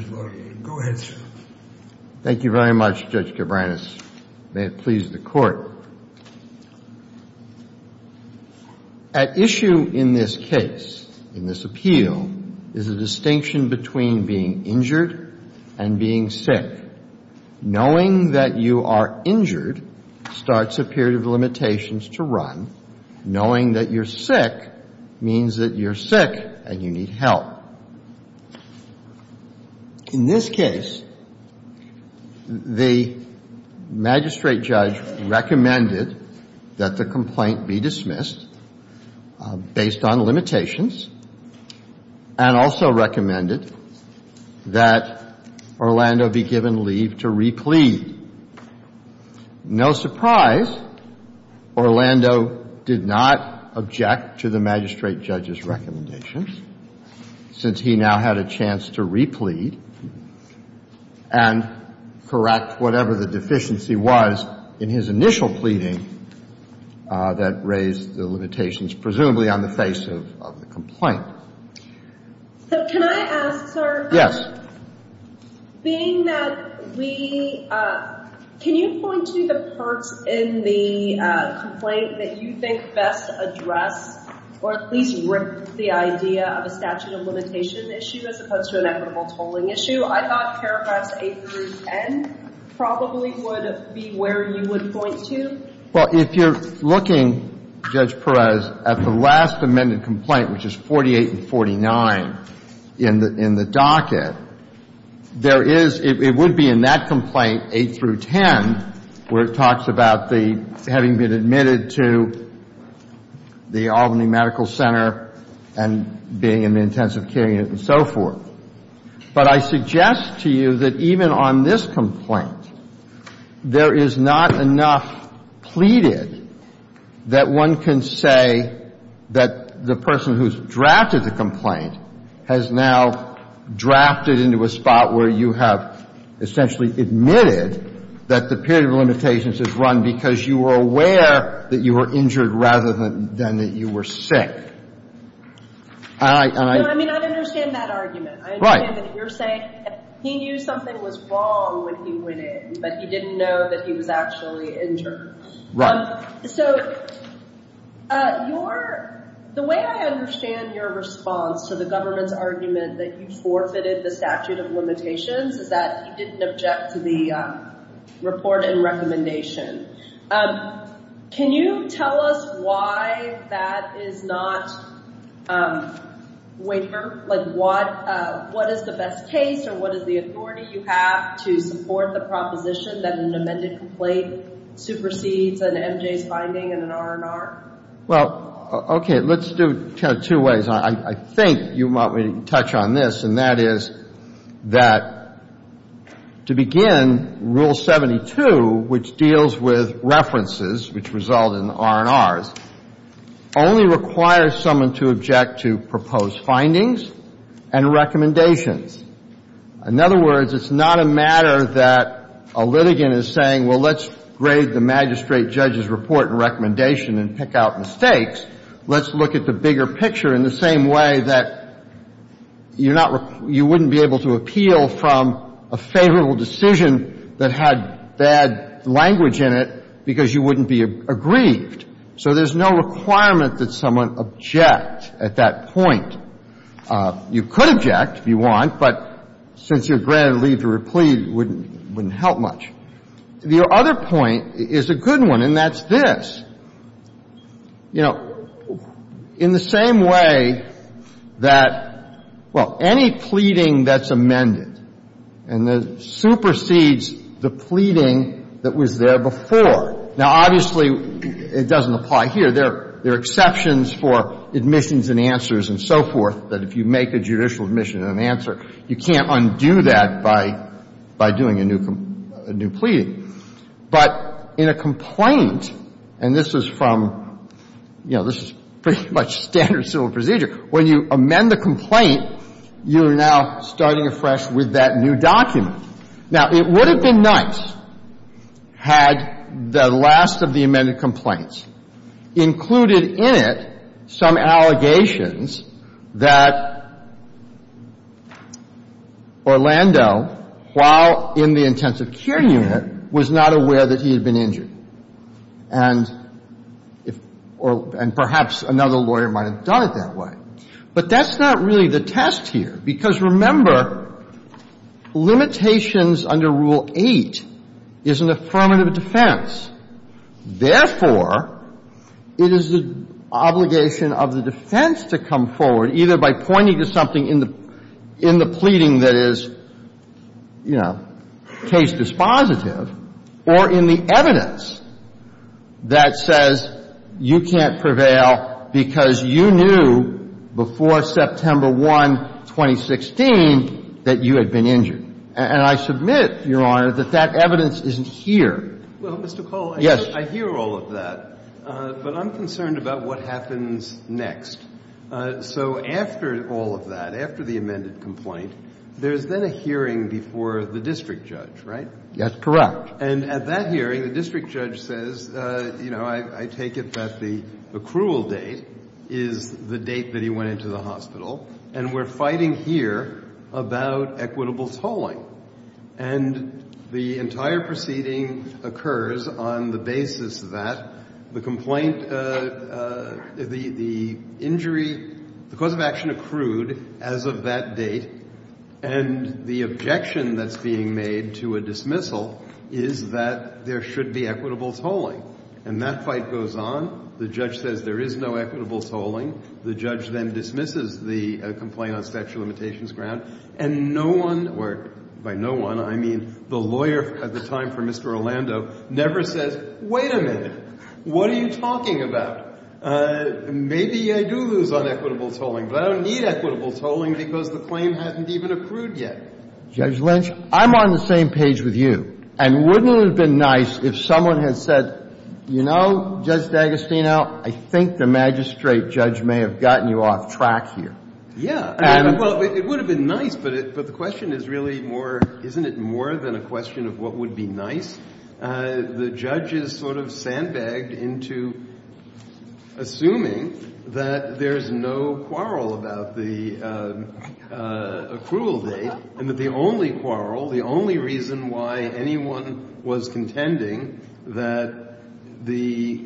S.L.A. Go ahead, sir. Thank you very much, Judge Cabranes. May it please the Court. At issue in this case, in this appeal, is a distinction between being injured and being sick. Knowing that you are injured starts a period of limitations to run. Knowing that you're sick means that you're sick and you need help. In this case, the magistrate judge recommended that the complaint be dismissed based on limitations and also recommended that Orlando be given leave to replead. No surprise, Orlando did not object to the magistrate judge's recommendations. Since he now had a chance to replead and correct whatever the deficiency was in his initial pleading that raised the limitations, presumably on the face of the complaint. So can I ask, sir? Yes. Being that we – can you point to the parts in the complaint that you think best address or at least rip the idea of a statute of limitation issue as opposed to an equitable tolling issue? I thought paragraphs 8 through 10 probably would be where you would point to. Well, if you're looking, Judge Perez, at the last amended complaint, which is 48 and 49, in the docket, there is – it would be in that complaint, 8 through 10, where it talks about the – having been admitted to the Albany Medical Center and being in the intensive care unit and so forth. But I suggest to you that even on this complaint, there is not enough pleaded that one can say that the person who's drafted the complaint has now drafted into a spot where you have essentially admitted that the period of limitations is run because you were aware that you were injured rather than that you were sick. And I – and I – No, I mean, I understand that argument. Right. I understand that you're saying he knew something was wrong when he went in, but he didn't know that he was actually injured. Right. So your – the way I understand your response to the government's argument that you forfeited the statute of limitations is that he didn't object to the report and recommendation. Can you tell us why that is not waiver? Like, what is the best case or what is the authority you have to support the proposition that an amended complaint supersedes an MJ's finding in an R&R? Well, okay. Let's do it two ways. I think you want me to touch on this, and that is that to begin, Rule 72, which deals with references, which result in R&Rs, only requires someone to object to proposed findings and recommendations. In other words, it's not a matter that a litigant is saying, well, let's grade the magistrate judge's report and recommendation and pick out mistakes. Let's look at the bigger picture in the same way that you're not – you wouldn't be able to appeal from a favorable decision that had bad language in it because you wouldn't be aggrieved. So there's no requirement that someone object at that point. You could object if you want, but since you're granted leave to replied, it wouldn't help much. The other point is a good one, and that's this. You know, in the same way that, well, any pleading that's amended and that supersedes the pleading that was there before. Now, obviously, it doesn't apply here. There are exceptions for admissions and answers and so forth, that if you make a judicial admission and an answer, you can't undo that by doing a new pleading. But in a complaint, and this is from – you know, this is pretty much standard civil procedure. When you amend the complaint, you are now starting afresh with that new document. Now, it would have been nice had the last of the amended complaints included in it some allegations that Orlando, while in the intensive care unit, would have been injured, and perhaps another lawyer might have done it that way. But that's not really the test here, because remember, limitations under Rule 8 is an affirmative defense. Therefore, it is the obligation of the defense to come forward, either by pointing to something in the pleading that is, you know, case dispositive, or in the evidence that says you can't prevail because you knew before September 1, 2016, that you had been injured. And I submit, Your Honor, that that evidence isn't here. Well, Mr. Cole. Yes. I hear all of that, but I'm concerned about what happens next. So after all of that, after the amended complaint, there's then a hearing before the district judge, right? That's correct. And at that hearing, the district judge says, you know, I take it that the accrual date is the date that he went into the hospital, and we're fighting here about equitable tolling. And the entire proceeding occurs on the basis that the complaint, the injury, the cause of action accrued as of that date, and the objection that's being made to a dismissal is that there should be equitable tolling. And that fight goes on. The judge says there is no equitable tolling. The judge then dismisses the complaint on statute of limitations ground. And no one, or by no one, I mean the lawyer at the time for Mr. Orlando never says, wait a minute. What are you talking about? Maybe I do lose on equitable tolling, but I don't need equitable tolling because the claim hasn't even accrued yet. Judge Lynch, I'm on the same page with you. And wouldn't it have been nice if someone had said, you know, Judge D'Agostino, I think the magistrate judge may have gotten you off track here. Yeah. Well, it would have been nice, but the question is really more, isn't it more than a question of what would be nice? The judge is sort of sandbagged into assuming that there's no quarrel about the accrual date and that the only quarrel, the only reason why anyone was contending that the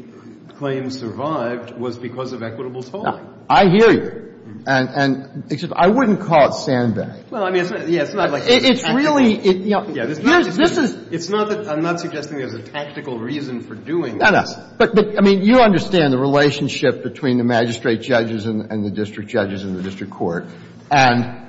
claim survived was because of equitable tolling. I hear you. And I wouldn't call it sandbagged. Well, I mean, it's not like a tactical reason. It's really, you know. It's not that I'm not suggesting there's a tactical reason for doing this. No, no. But, I mean, you understand the relationship between the magistrate judges and the district judges and the district court. And,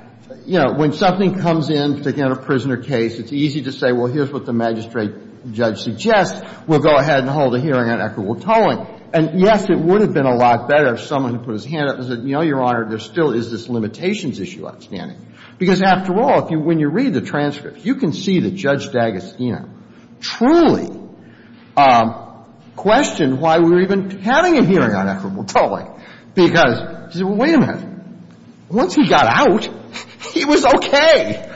you know, when something comes in, again, a prisoner case, it's easy to say, well, here's what the magistrate judge suggests, we'll go ahead and hold a hearing on equitable tolling. And, yes, it would have been a lot better if someone had put his hand up and said, you know, Your Honor, there still is this limitations issue outstanding. Because, after all, when you read the transcripts, you can see that Judge D'Agostino truly questioned why we were even having a hearing on equitable tolling. Because he said, well, wait a minute. Once he got out, he was okay.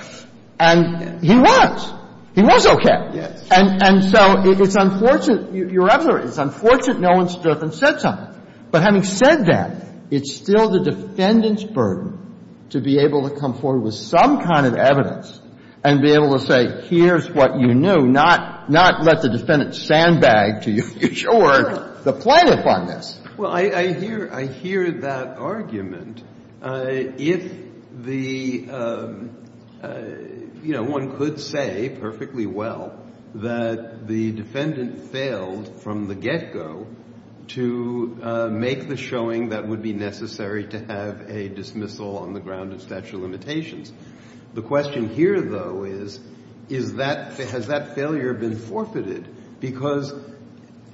And he was. He was okay. And so it's unfortunate. You're absolutely right. It's unfortunate no one stood up and said something. But having said that, it's still the defendant's burden to be able to come forward with some kind of evidence and be able to say, here's what you knew, not let the defendant sandbag to your future work the plaintiff on this. Well, I hear that argument. If the, you know, one could say perfectly well that the defendant failed from the showing that would be necessary to have a dismissal on the ground of statute of limitations. The question here, though, is, is that, has that failure been forfeited? Because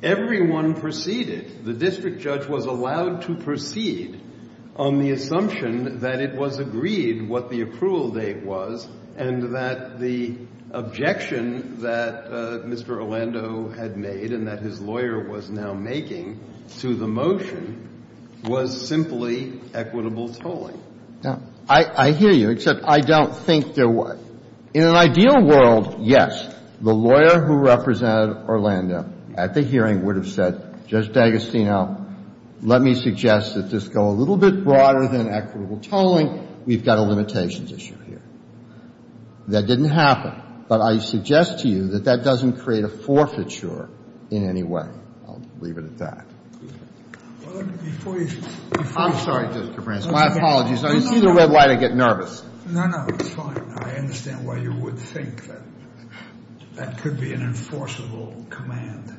everyone proceeded. The district judge was allowed to proceed on the assumption that it was agreed what the approval date was and that the objection that Mr. Orlando had made and that his lawyer was now making to the motion was simply equitable tolling. I hear you, except I don't think there was. In an ideal world, yes, the lawyer who represented Orlando at the hearing would have said, Judge D'Agostino, let me suggest that this go a little bit broader than equitable tolling. We've got a limitations issue here. That didn't happen. But I suggest to you that that doesn't create a forfeiture in any way. I'll leave it at that. I'm sorry, Judge DeFranco. My apologies. You see the red light, I get nervous. No, no, it's fine. I understand why you would think that that could be an enforceable command.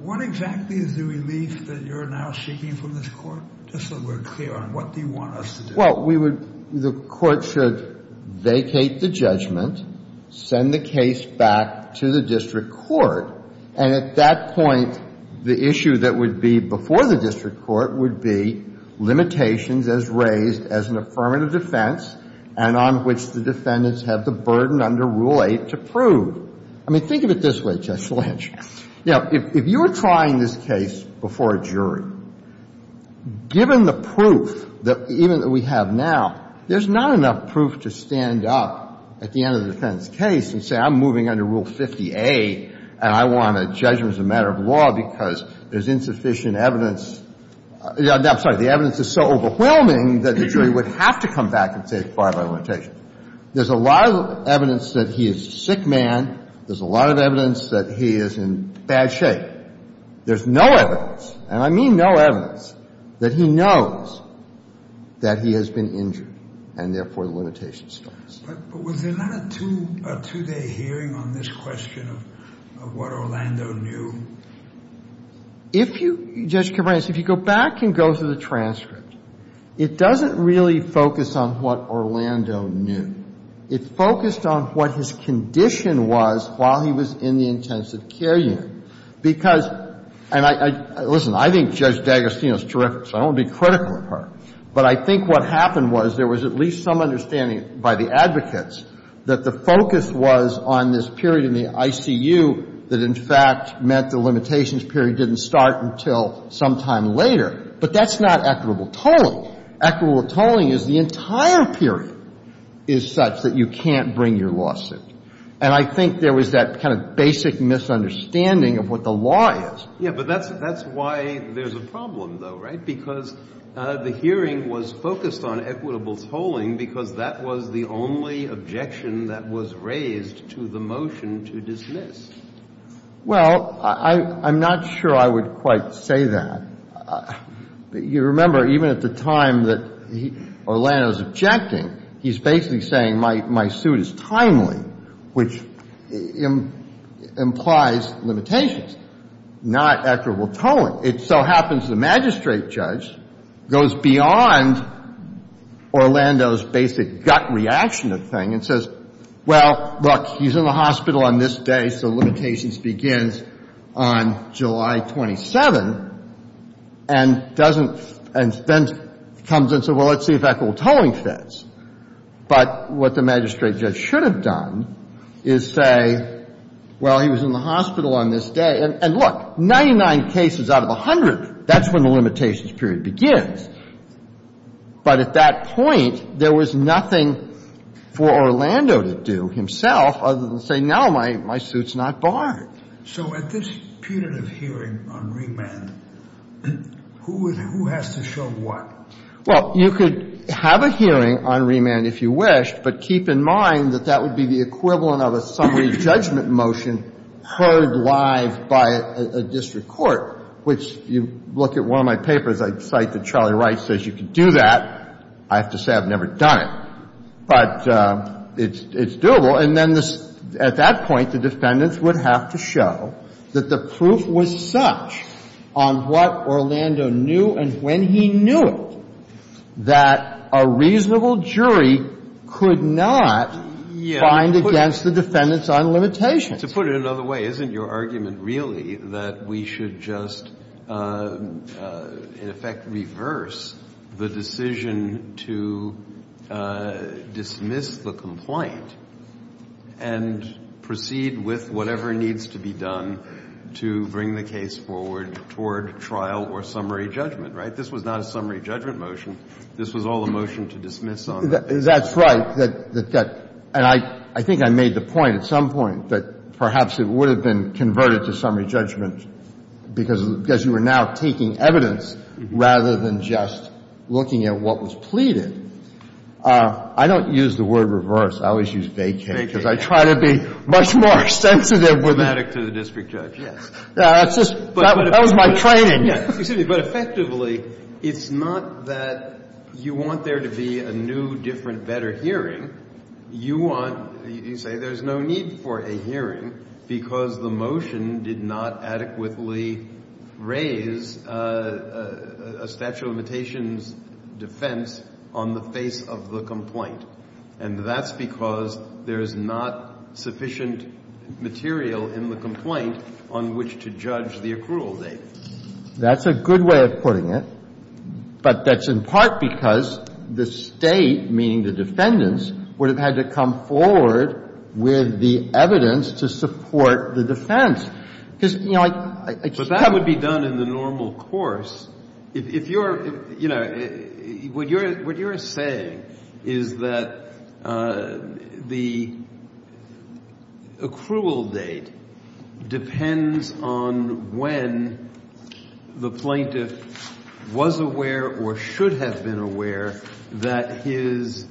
What exactly is the relief that you're now seeking from this Court, just so we're clear on what do you want us to do? Well, the Court should vacate the judgment, send the case back to the district court, and at that point, the issue that would be before the district court would be limitations as raised as an affirmative defense and on which the defendants have the burden under Rule 8 to prove. I mean, think of it this way, Justice Lynch. Now, if you were trying this case before a jury, given the proof that even that we have now, there's not enough proof to stand up at the end of the defendant's case and say, I'm moving under Rule 50A, and I want a judgment as a matter of law because there's insufficient evidence. I'm sorry. The evidence is so overwhelming that the jury would have to come back and say it's by a limitation. There's a lot of evidence that he is a sick man. There's a lot of evidence that he is in bad shape. There's no evidence, and I mean no evidence, that he knows that he has been injured and, therefore, the limitation stands. But was there not a two-day hearing on this question of what Orlando knew? If you go back and go through the transcript, it doesn't really focus on what Orlando knew. It focused on what his condition was while he was in the intensive care unit. Because, and I — listen, I think Judge D'Agostino is terrific, so I don't want to be critical of her. But I think what happened was there was at least some understanding by the advocates that the focus was on this period in the ICU that, in fact, meant the limitations period didn't start until sometime later. But that's not equitable tolling. Equitable tolling is the entire period is such that you can't bring your lawsuit. And I think there was that kind of basic misunderstanding of what the law is. Yeah, but that's why there's a problem, though, right? Because the hearing was focused on equitable tolling because that was the only objection that was raised to the motion to dismiss. Well, I'm not sure I would quite say that. You remember, even at the time that Orlando is objecting, he's basically saying my suit is timely, which implies limitations, not equitable tolling. It so happens the magistrate judge goes beyond Orlando's basic gut reaction to the thing and says, well, look, he's in the hospital on this day, so limitations begins on July 27, and doesn't — and then comes and says, well, let's see if equitable tolling fits. But what the magistrate judge should have done is say, well, he was in the hospital on this day. And, look, 99 cases out of 100, that's when the limitations period begins. But at that point, there was nothing for Orlando to do himself other than say, no, my suit's not barred. So at this punitive hearing on remand, who has to show what? Well, you could have a hearing on remand if you wish, but keep in mind that that would be the equivalent of a summary judgment motion heard live by a district court, which you look at one of my papers. I cite that Charlie Wright says you could do that. I have to say I've never done it. But it's doable. And then the — at that point, the defendants would have to show that the proof was such on what Orlando knew and when he knew it that a reasonable jury could not find against the defendants on limitations. To put it another way, isn't your argument really that we should just, in effect, reverse the decision to dismiss the complaint and proceed with whatever needs to be done to bring the case forward toward trial or summary judgment, right? This was not a summary judgment motion. This was all a motion to dismiss on that. That's right. And I think I made the point at some point that perhaps it would have been converted to summary judgment because you are now taking evidence rather than just looking at what was pleaded. I don't use the word reverse. I always use vacate. Because I try to be much more sensitive with it. It's automatic to the district judge, yes. That was my training. But effectively, it's not that you want there to be a new, different, better hearing. You want, you say there's no need for a hearing because the motion did not adequately raise a statute of limitations defense on the face of the complaint. And that's because there is not sufficient material in the complaint on which to judge the accrual date. That's a good way of putting it. But that's in part because the State, meaning the defendants, would have had to come forward with the evidence to support the defense. Because, you know, I just can't. But that would be done in the normal course. If you're, you know, what you're saying is that the accrual date depends on when the plaintiff was aware or should have been aware that his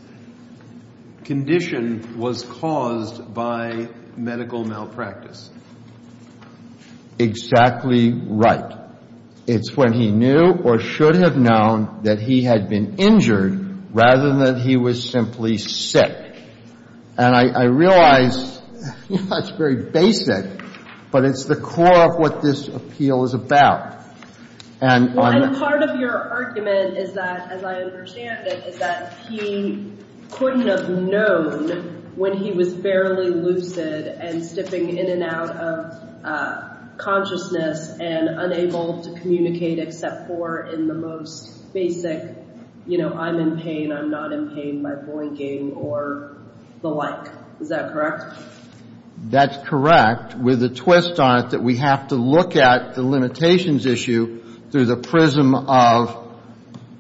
condition was caused by medical malpractice. Exactly right. It's when he knew or should have known that he had been injured rather than that he was simply sick. And I realize that's very basic, but it's the core of what this appeal is about. And part of your argument is that, as I understand it, is that he couldn't have known when he was fairly lucid and stepping in and out of consciousness and unable to communicate except for in the most basic, you know, I'm in pain, I'm not in pain by blinking or the like. Is that correct? That's correct, with a twist on it that we have to look at the limitations issue through the prism of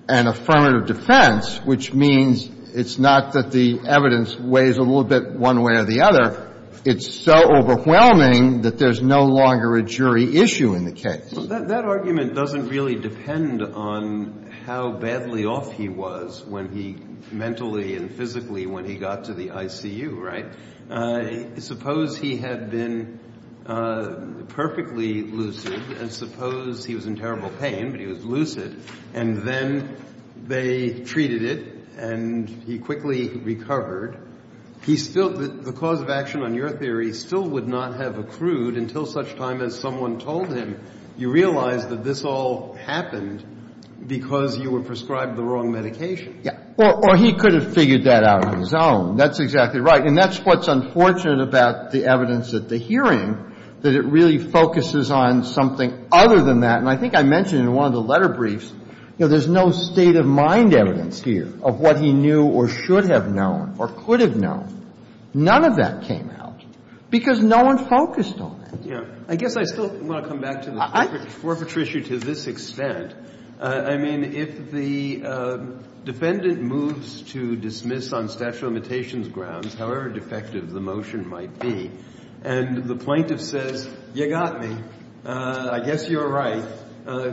an affirmative defense, which means it's not that the evidence weighs a little bit one way or the other. It's so overwhelming that there's no longer a jury issue in the case. That argument doesn't really depend on how badly off he was mentally and physically when he got to the ICU, right? Suppose he had been perfectly lucid and suppose he was in terrible pain, but he was lucid, and then they treated it and he quickly recovered. The cause of action on your theory still would not have accrued until such time as someone told him, you realize that this all happened because you were prescribed the wrong medication. Yeah. Or he could have figured that out on his own. That's exactly right. And that's what's unfortunate about the evidence at the hearing, that it really focuses on something other than that. And I think I mentioned in one of the letter briefs, you know, there's no state of mind evidence here of what he knew or should have known or could have known. None of that came out because no one focused on it. I guess I still want to come back to the forfeiture issue to this extent. I mean, if the defendant moves to dismiss on statute of limitations grounds, however defective the motion might be, and the plaintiff says, you got me, I guess you're right,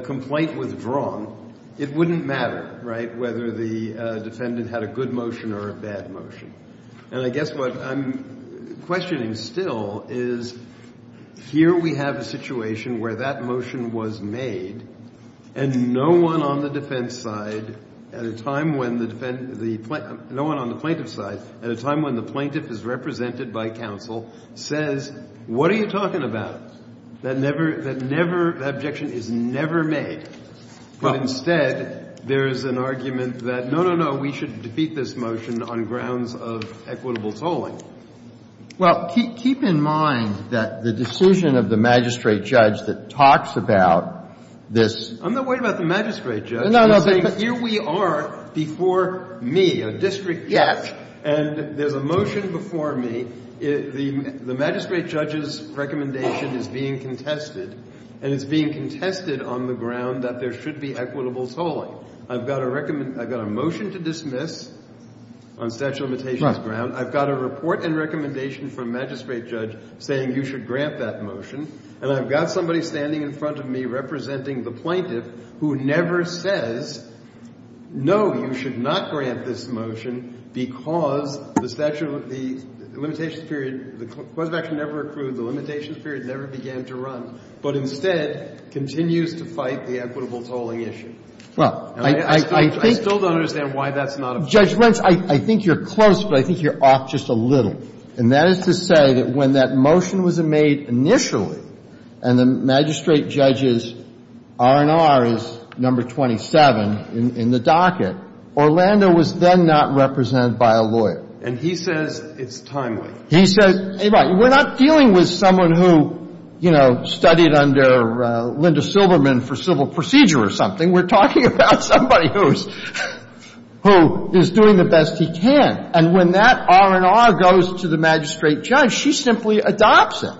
complaint withdrawn, it wouldn't matter, right, whether the defendant had a good motion or a bad motion. And I guess what I'm questioning still is here we have a situation where that motion was made and no one on the defense side at a time when the plaintiff is represented by counsel says, what are you talking about, that objection is never made. But instead there's an argument that, no, no, no, we should defeat this motion on grounds of equitable tolling. Well, keep in mind that the decision of the magistrate judge that talks about this I'm not worried about the magistrate judge. No, no. Here we are before me, a district judge. And there's a motion before me. The magistrate judge's recommendation is being contested, and it's being contested on the ground that there should be equitable tolling. I've got a motion to dismiss on statute of limitations ground. I've got a report and recommendation from magistrate judge saying you should grant that motion. And I've got somebody standing in front of me representing the plaintiff who never says, no, you should not grant this motion because the statute of limitations period, the clause of action never accrued, the limitations period never began to run, but instead continues to fight the equitable tolling issue. Well, I think you're close, but I think you're off just a little. And that is to say that when that motion was made initially and the magistrate judge's R&R is number 27 in the docket, Orlando was then not represented by a lawyer. And he says it's timely. He says, hey, we're not dealing with someone who, you know, studied under Linda Silberman for civil procedure or something. We're talking about somebody who is doing the best he can. And when that R&R goes to the magistrate judge, she simply adopts it.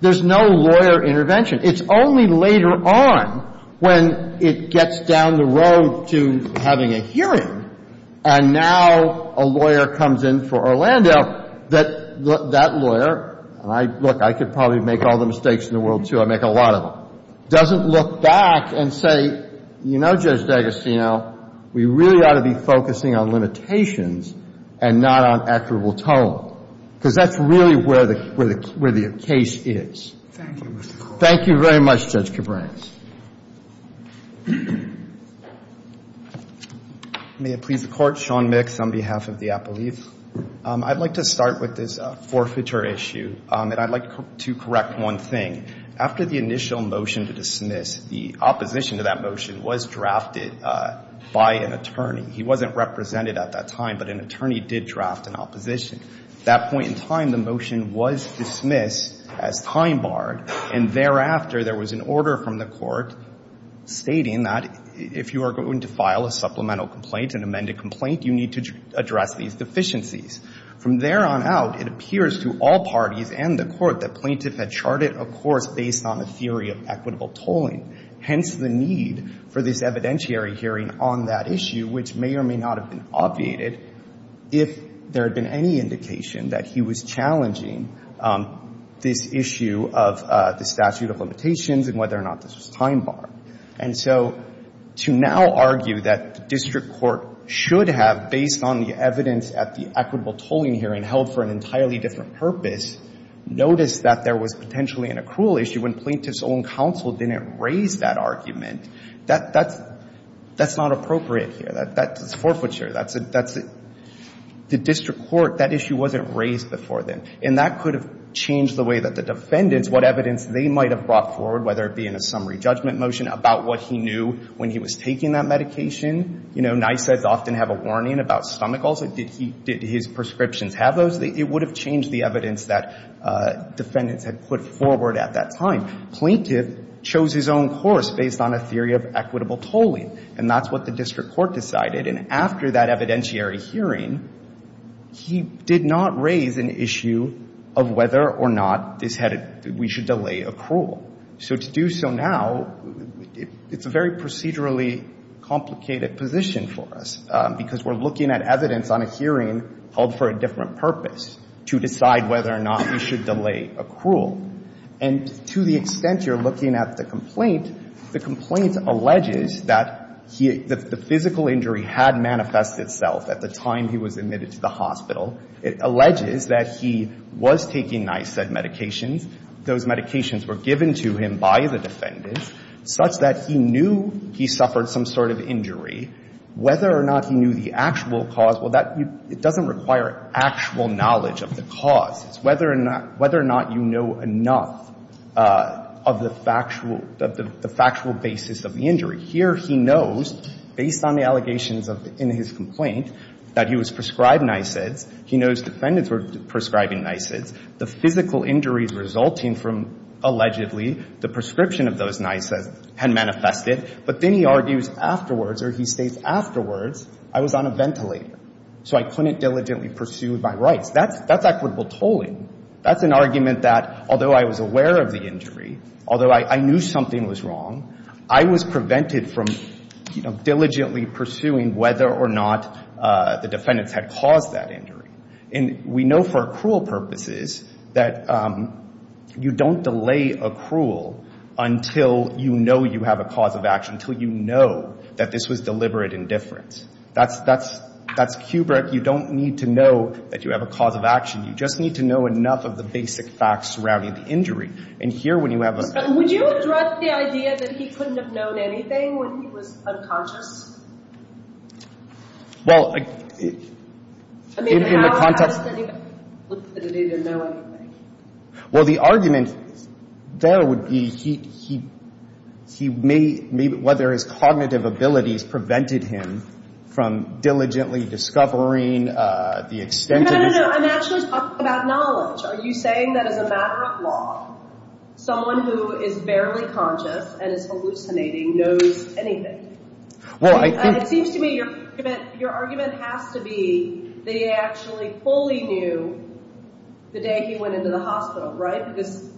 There's no lawyer intervention. It's only later on when it gets down the road to having a hearing and now a lawyer comes in for Orlando that that lawyer, and look, I could probably make all the mistakes in the world, too, I make a lot of them, doesn't look back and say, you know, Judge D'Agostino, we really ought to be focusing on limitations and not on equitable tolling, because that's really where the case is. Thank you, Mr. Court. Thank you very much, Judge Cabranes. May it please the Court. Sean Mix on behalf of the Apple Leaf. I'd like to start with this forfeiture issue, and I'd like to correct one thing. After the initial motion to dismiss, the opposition to that motion was drafted by an attorney. He wasn't represented at that time, but an attorney did draft an opposition. At that point in time, the motion was dismissed as time barred, and thereafter there was an order from the Court stating that if you are going to file a supplemental complaint, an amended complaint, you need to address these deficiencies. From there on out, it appears to all parties and the Court that Plaintiff had charted a course based on a theory of equitable tolling, hence the need for this evidentiary hearing on that issue, which may or may not have been obviated if there had been any indication that he was challenging this issue of the statute of limitations and whether or not this was time barred. And so to now argue that the district court should have, based on the evidence at the equitable tolling hearing held for an entirely different purpose, noticed that there was potentially an accrual issue when Plaintiff's own counsel didn't raise that argument, that's not appropriate here. That's forfeiture. The district court, that issue wasn't raised before then, and that could have changed the way that the defendants, what evidence they might have brought forward, whether it be in a summary judgment motion about what he knew when he was taking that medication. You know, NYSAs often have a warning about stomach ulcer. Did he, did his prescriptions have those? It would have changed the evidence that defendants had put forward at that time. Plaintiff chose his own course based on a theory of equitable tolling, and that's what the district court decided. And after that evidentiary hearing, he did not raise an issue of whether or not this had, we should delay accrual. So to do so now, it's a very procedurally complicated position for us, because we're looking at evidence on a hearing held for a different purpose, to decide whether or not we should delay accrual. And to the extent you're looking at the complaint, the complaint alleges that he, that the physical injury had manifested itself at the time he was admitted to the hospital, it alleges that he was taking NYSED medications, those medications were given to him by the defendants, such that he knew he suffered some sort of injury. Whether or not he knew the actual cause, well, that, it doesn't require actual knowledge of the cause. It's whether or not, whether or not you know enough of the factual, of the factual basis of the injury. Here he knows, based on the allegations of, in his complaint, that he was prescribed for NYSEDs, he knows defendants were prescribing NYSEDs, the physical injuries resulting from, allegedly, the prescription of those NYSEDs had manifested, but then he argues afterwards, or he states afterwards, I was on a ventilator. So I couldn't diligently pursue my rights. That's, that's equitable tolling. That's an argument that, although I was aware of the injury, although I, I knew something was wrong, I was prevented from, you know, diligently pursuing whether or not the injury had caused that injury. And we know for accrual purposes that you don't delay accrual until you know you have a cause of action, until you know that this was deliberate indifference. That's, that's, that's Kubrick. You don't need to know that you have a cause of action. You just need to know enough of the basic facts surrounding the injury. And here, when you have a... In the context... Well, the argument there would be he, he, he may, whether his cognitive abilities prevented him from diligently discovering the extent of his... No, no, no, I'm actually talking about knowledge. Are you saying that as a matter of law, someone who is barely conscious and is hallucinating knows anything? Well, I think... They actually fully knew the day he went into the hospital, right? Because...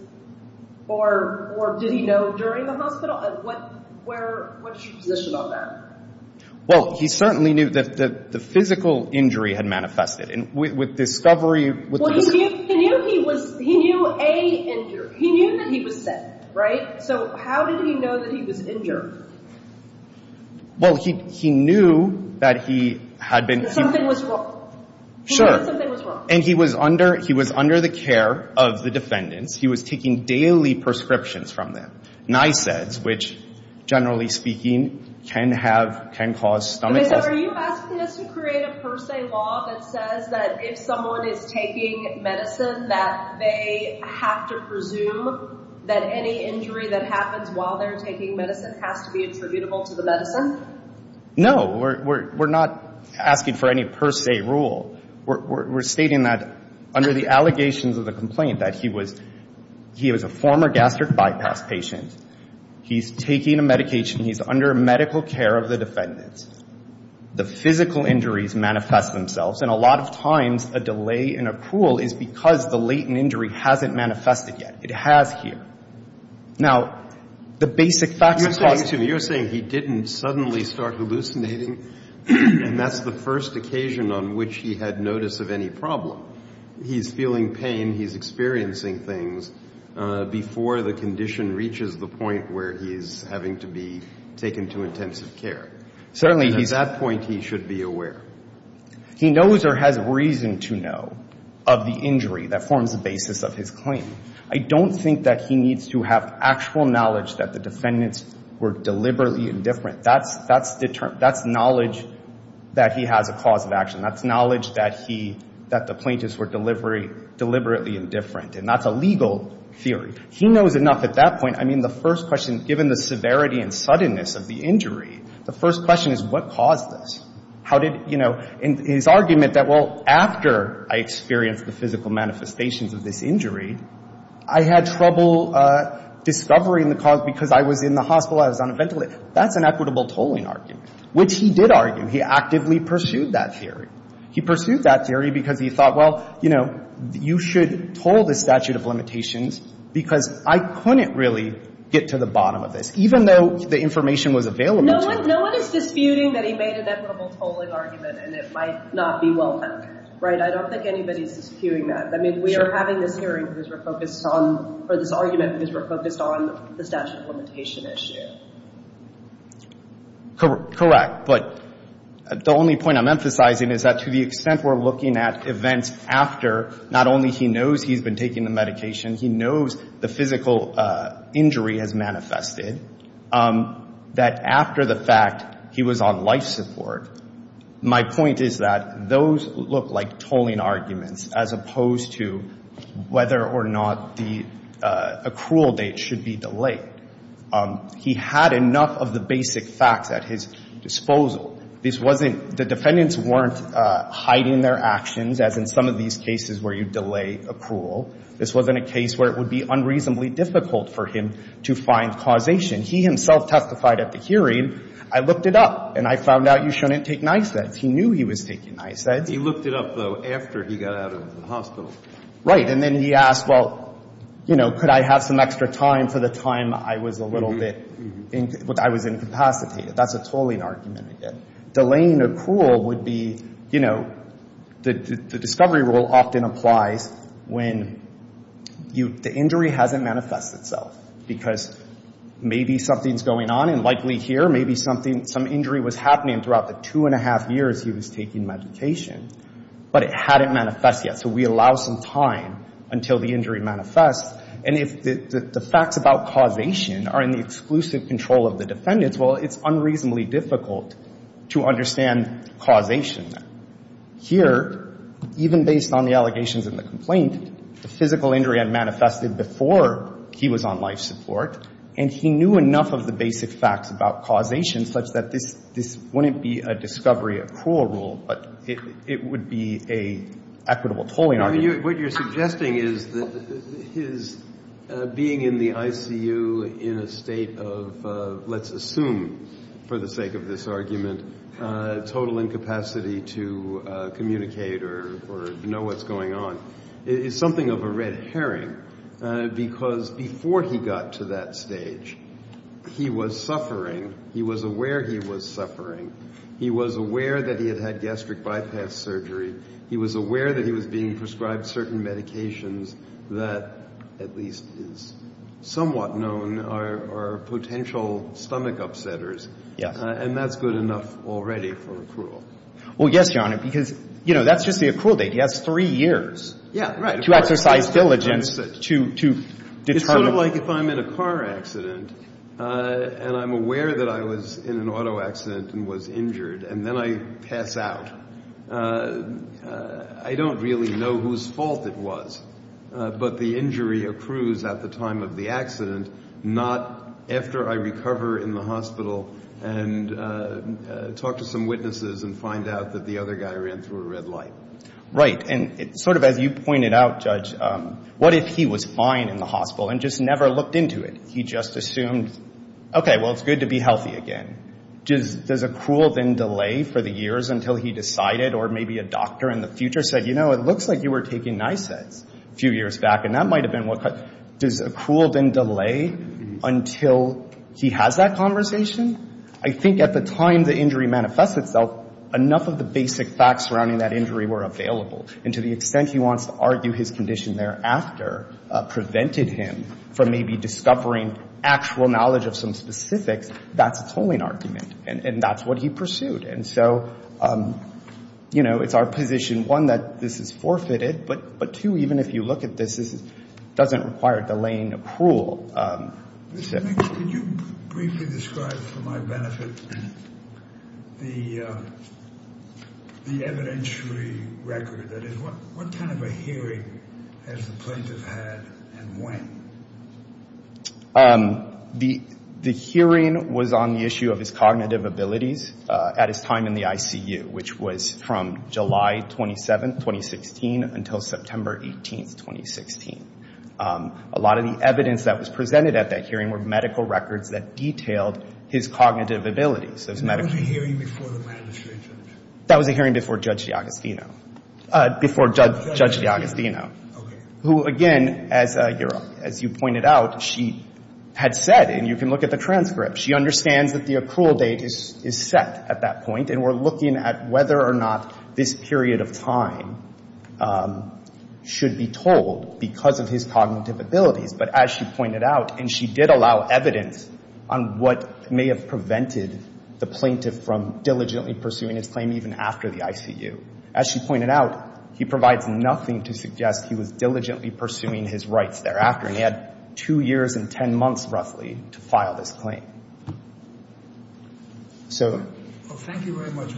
Or, or did he know during the hospital? What, where, what's your position on that? Well, he certainly knew that, that the physical injury had manifested. And with, with discovery... Well, he knew, he knew he was, he knew a injury. He knew that he was sick, right? So how did he know that he was injured? Well, he, he knew that he had been... He knew that something was wrong. He knew that something was wrong. And he was under, he was under the care of the defendants. He was taking daily prescriptions from them. Nyseds, which, generally speaking, can have, can cause stomach... Are you asking us to create a per se law that says that if someone is taking medicine that they have to presume that any injury that happens while they're taking medicine has to be attributable to the medicine? No. We're, we're, we're not asking for any per se rule. We're, we're, we're stating that under the allegations of the complaint, that he was, he was a former gastric bypass patient. He's taking a medication. He's under medical care of the defendants. The physical injuries manifest themselves. And a lot of times a delay in a pool is because the latent injury hasn't manifested yet. It has here. Now, the basic facts... And he didn't suddenly start hallucinating. And that's the first occasion on which he had notice of any problem. He's feeling pain. He's experiencing things before the condition reaches the point where he's having to be taken to intensive care. Certainly he's... At that point, he should be aware. He knows or has reason to know of the injury that forms the basis of his claim. I don't think that he needs to have actual knowledge that the defendants were deliberately indifferent. That's, that's, that's knowledge that he has a cause of action. That's knowledge that he, that the plaintiffs were deliberately indifferent. And that's a legal theory. He knows enough at that point. I mean, the first question, given the severity and suddenness of the injury... The first question is what caused this? How did, you know... And his argument that, well, after I experienced the physical manifestations of this injury, I had trouble discovering the cause because I was in the hospital, I was on a ventilator. That's an equitable tolling argument, which he did argue. He actively pursued that theory. He pursued that theory because he thought, well, you know, you should toll the statute of limitations because I couldn't really get to the bottom of this, even though the information was available to me. No one, no one is disputing that he made an equitable tolling argument and it might not be well-founded, right? I don't think anybody's disputing that. I mean, we are having this hearing because we're focused on, or this argument because we're focused on the statute of limitation issue. Correct. But the only point I'm emphasizing is that to the extent we're looking at events after, not only he knows he's been taking the medication, he knows the physical injury has manifested, that after the fact he was on life support, my point is that those look like tolling arguments as opposed to whether or not the accrual date should be delayed. He had enough of the basic facts at his disposal. This wasn't, the defendants weren't hiding their actions, as in some of these cases where you delay accrual. This wasn't a case where it would be unreasonably difficult for him to find causation. He himself testified at the hearing, I looked it up and I found out you shouldn't take Nyseds. He knew he was taking Nyseds. He looked it up, though, after he got out of the hospital. Right. And then he asked, well, you know, could I have some extra time for the time I was a little bit, I was incapacitated. That's a tolling argument again. Delaying accrual would be, you know, the discovery rule often applies when the injury hasn't manifested itself because maybe something's going on and likely here maybe something, some injury was happening throughout the two and a half years he was taking medication, but it hadn't manifested yet. So we allow some time until the injury manifests. And if the facts about causation are in the exclusive control of the defendants, well, it's unreasonably difficult to understand causation. Here, even based on the allegations in the complaint, the physical injury had manifested before he was on life support and he knew enough of the basic facts about causation such that this wouldn't be a discovery accrual rule, but it would be an equitable tolling argument. What you're suggesting is that his being in the ICU in a state of, let's assume for the sake of this argument, total incapacity to communicate or know what's going on is something of a red herring because before he got to that stage, he was suffering. He was aware he was suffering. He was aware that he had had gastric bypass surgery. He was aware that he was being prescribed certain medications that at least is somewhat known are potential stomach upsetters. And that's good enough already for accrual. Well, yes, Your Honor, because, you know, that's just the accrual date. He has three years to exercise diligence to determine. It's sort of like if I'm in a car accident and I'm aware that I was in an auto accident and was injured and then I pass out, I don't really know whose fault it was. But the injury accrues at the time of the accident, not after I recover in the hospital and talk to some witnesses and find out that the other guy ran through a red light. Right. And sort of as you pointed out, Judge, what if he was fine in the hospital and just never looked into it? He just assumed, okay, well, it's good to be healthy again. Does accrual then delay for the years until he decided or maybe a doctor in the future said, you know, it looks like you were taking Nysets a few years back, and that might have been what caused it. Does accrual then delay until he has that conversation? I think at the time the injury manifests itself, enough of the basic facts surrounding that injury were available. And to the extent he wants to argue his condition thereafter prevented him from maybe discovering actual knowledge of some specifics, that's a tolling argument, and that's what he pursued. And so, you know, it's our position, one, that this is forfeited, but, two, even if you look at this, it doesn't require delaying accrual. Could you briefly describe for my benefit the evidentiary record? That is, what kind of a hearing has the plaintiff had and when? The hearing was on the issue of his cognitive abilities at his time in the ICU, which was from July 27, 2016, until September 18, 2016. A lot of the evidence that was presented at that hearing were medical records that detailed his cognitive abilities. So it was a medical record. That was a hearing before the magistrate judge? That was a hearing before Judge DiAgostino. Before Judge DiAgostino. Okay. Who, again, as you pointed out, she had said, and you can look at the transcript, she understands that the accrual date is set at that point, and we're looking at whether or not this period of time should be told because of his cognitive abilities. But, as she pointed out, and she did allow evidence on what may have prevented the plaintiff from diligently pursuing his claim even after the ICU. As she pointed out, he provides nothing to suggest he was diligently pursuing his rights thereafter, and he had two years and ten months, roughly, to file this claim. So... Well, thank you very much.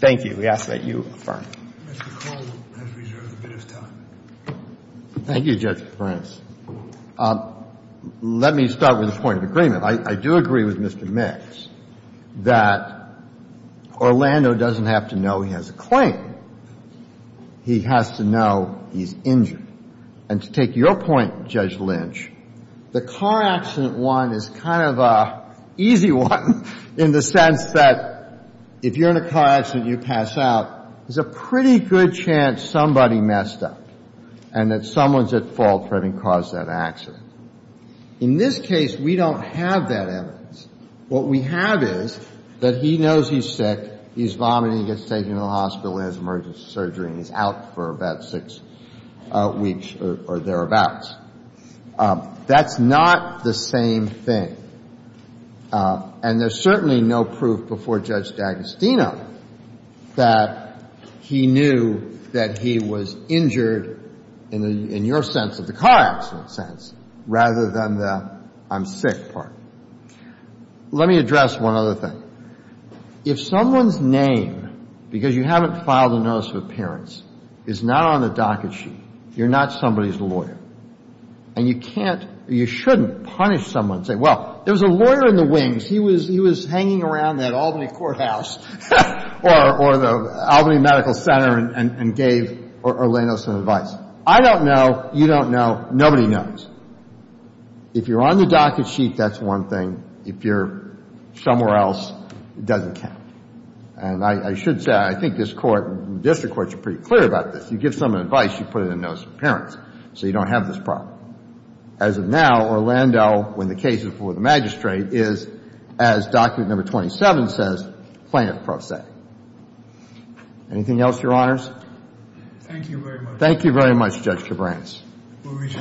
Thank you. We ask that you affirm. Mr. Carle has reserved a bit of time. Thank you, Judge Prince. Let me start with a point of agreement. I do agree with Mr. Mix that Orlando doesn't have to know he has a claim. He has to know he's injured. And to take your point, Judge Lynch, the car accident one is kind of an easy one in the sense that if you're in a car accident and you pass out, there's a pretty good chance somebody messed up and that someone's at fault for having caused that accident. In this case, we don't have that evidence. What we have is that he knows he's sick, he's vomiting, he gets taken to the hospital, he has emergency surgery, and he's out for about six weeks or thereabouts. That's not the same thing. And there's certainly no proof before Judge D'Agostino that he knew that he was injured in your sense of the car accident sense rather than the I'm sick part. Let me address one other thing. If someone's name, because you haven't filed a notice of appearance, is not on the docket sheet, you're not somebody's lawyer. And you can't or you shouldn't punish someone and say, well, there was a lawyer in the wings. He was hanging around that Albany courthouse or the Albany Medical Center and gave Erlano some advice. I don't know. You don't know. Nobody knows. If you're on the docket sheet, that's one thing. If you're somewhere else, it doesn't count. And I should say, I think this court, district courts are pretty clear about this. If you give someone advice, you put it in a notice of appearance so you don't have this problem. As of now, Erlano, when the case is before the magistrate, is, as document number 27 says, plaintiff-prosec. Anything else, Your Honors? Thank you very much. Thank you very much, Judge Cabranes.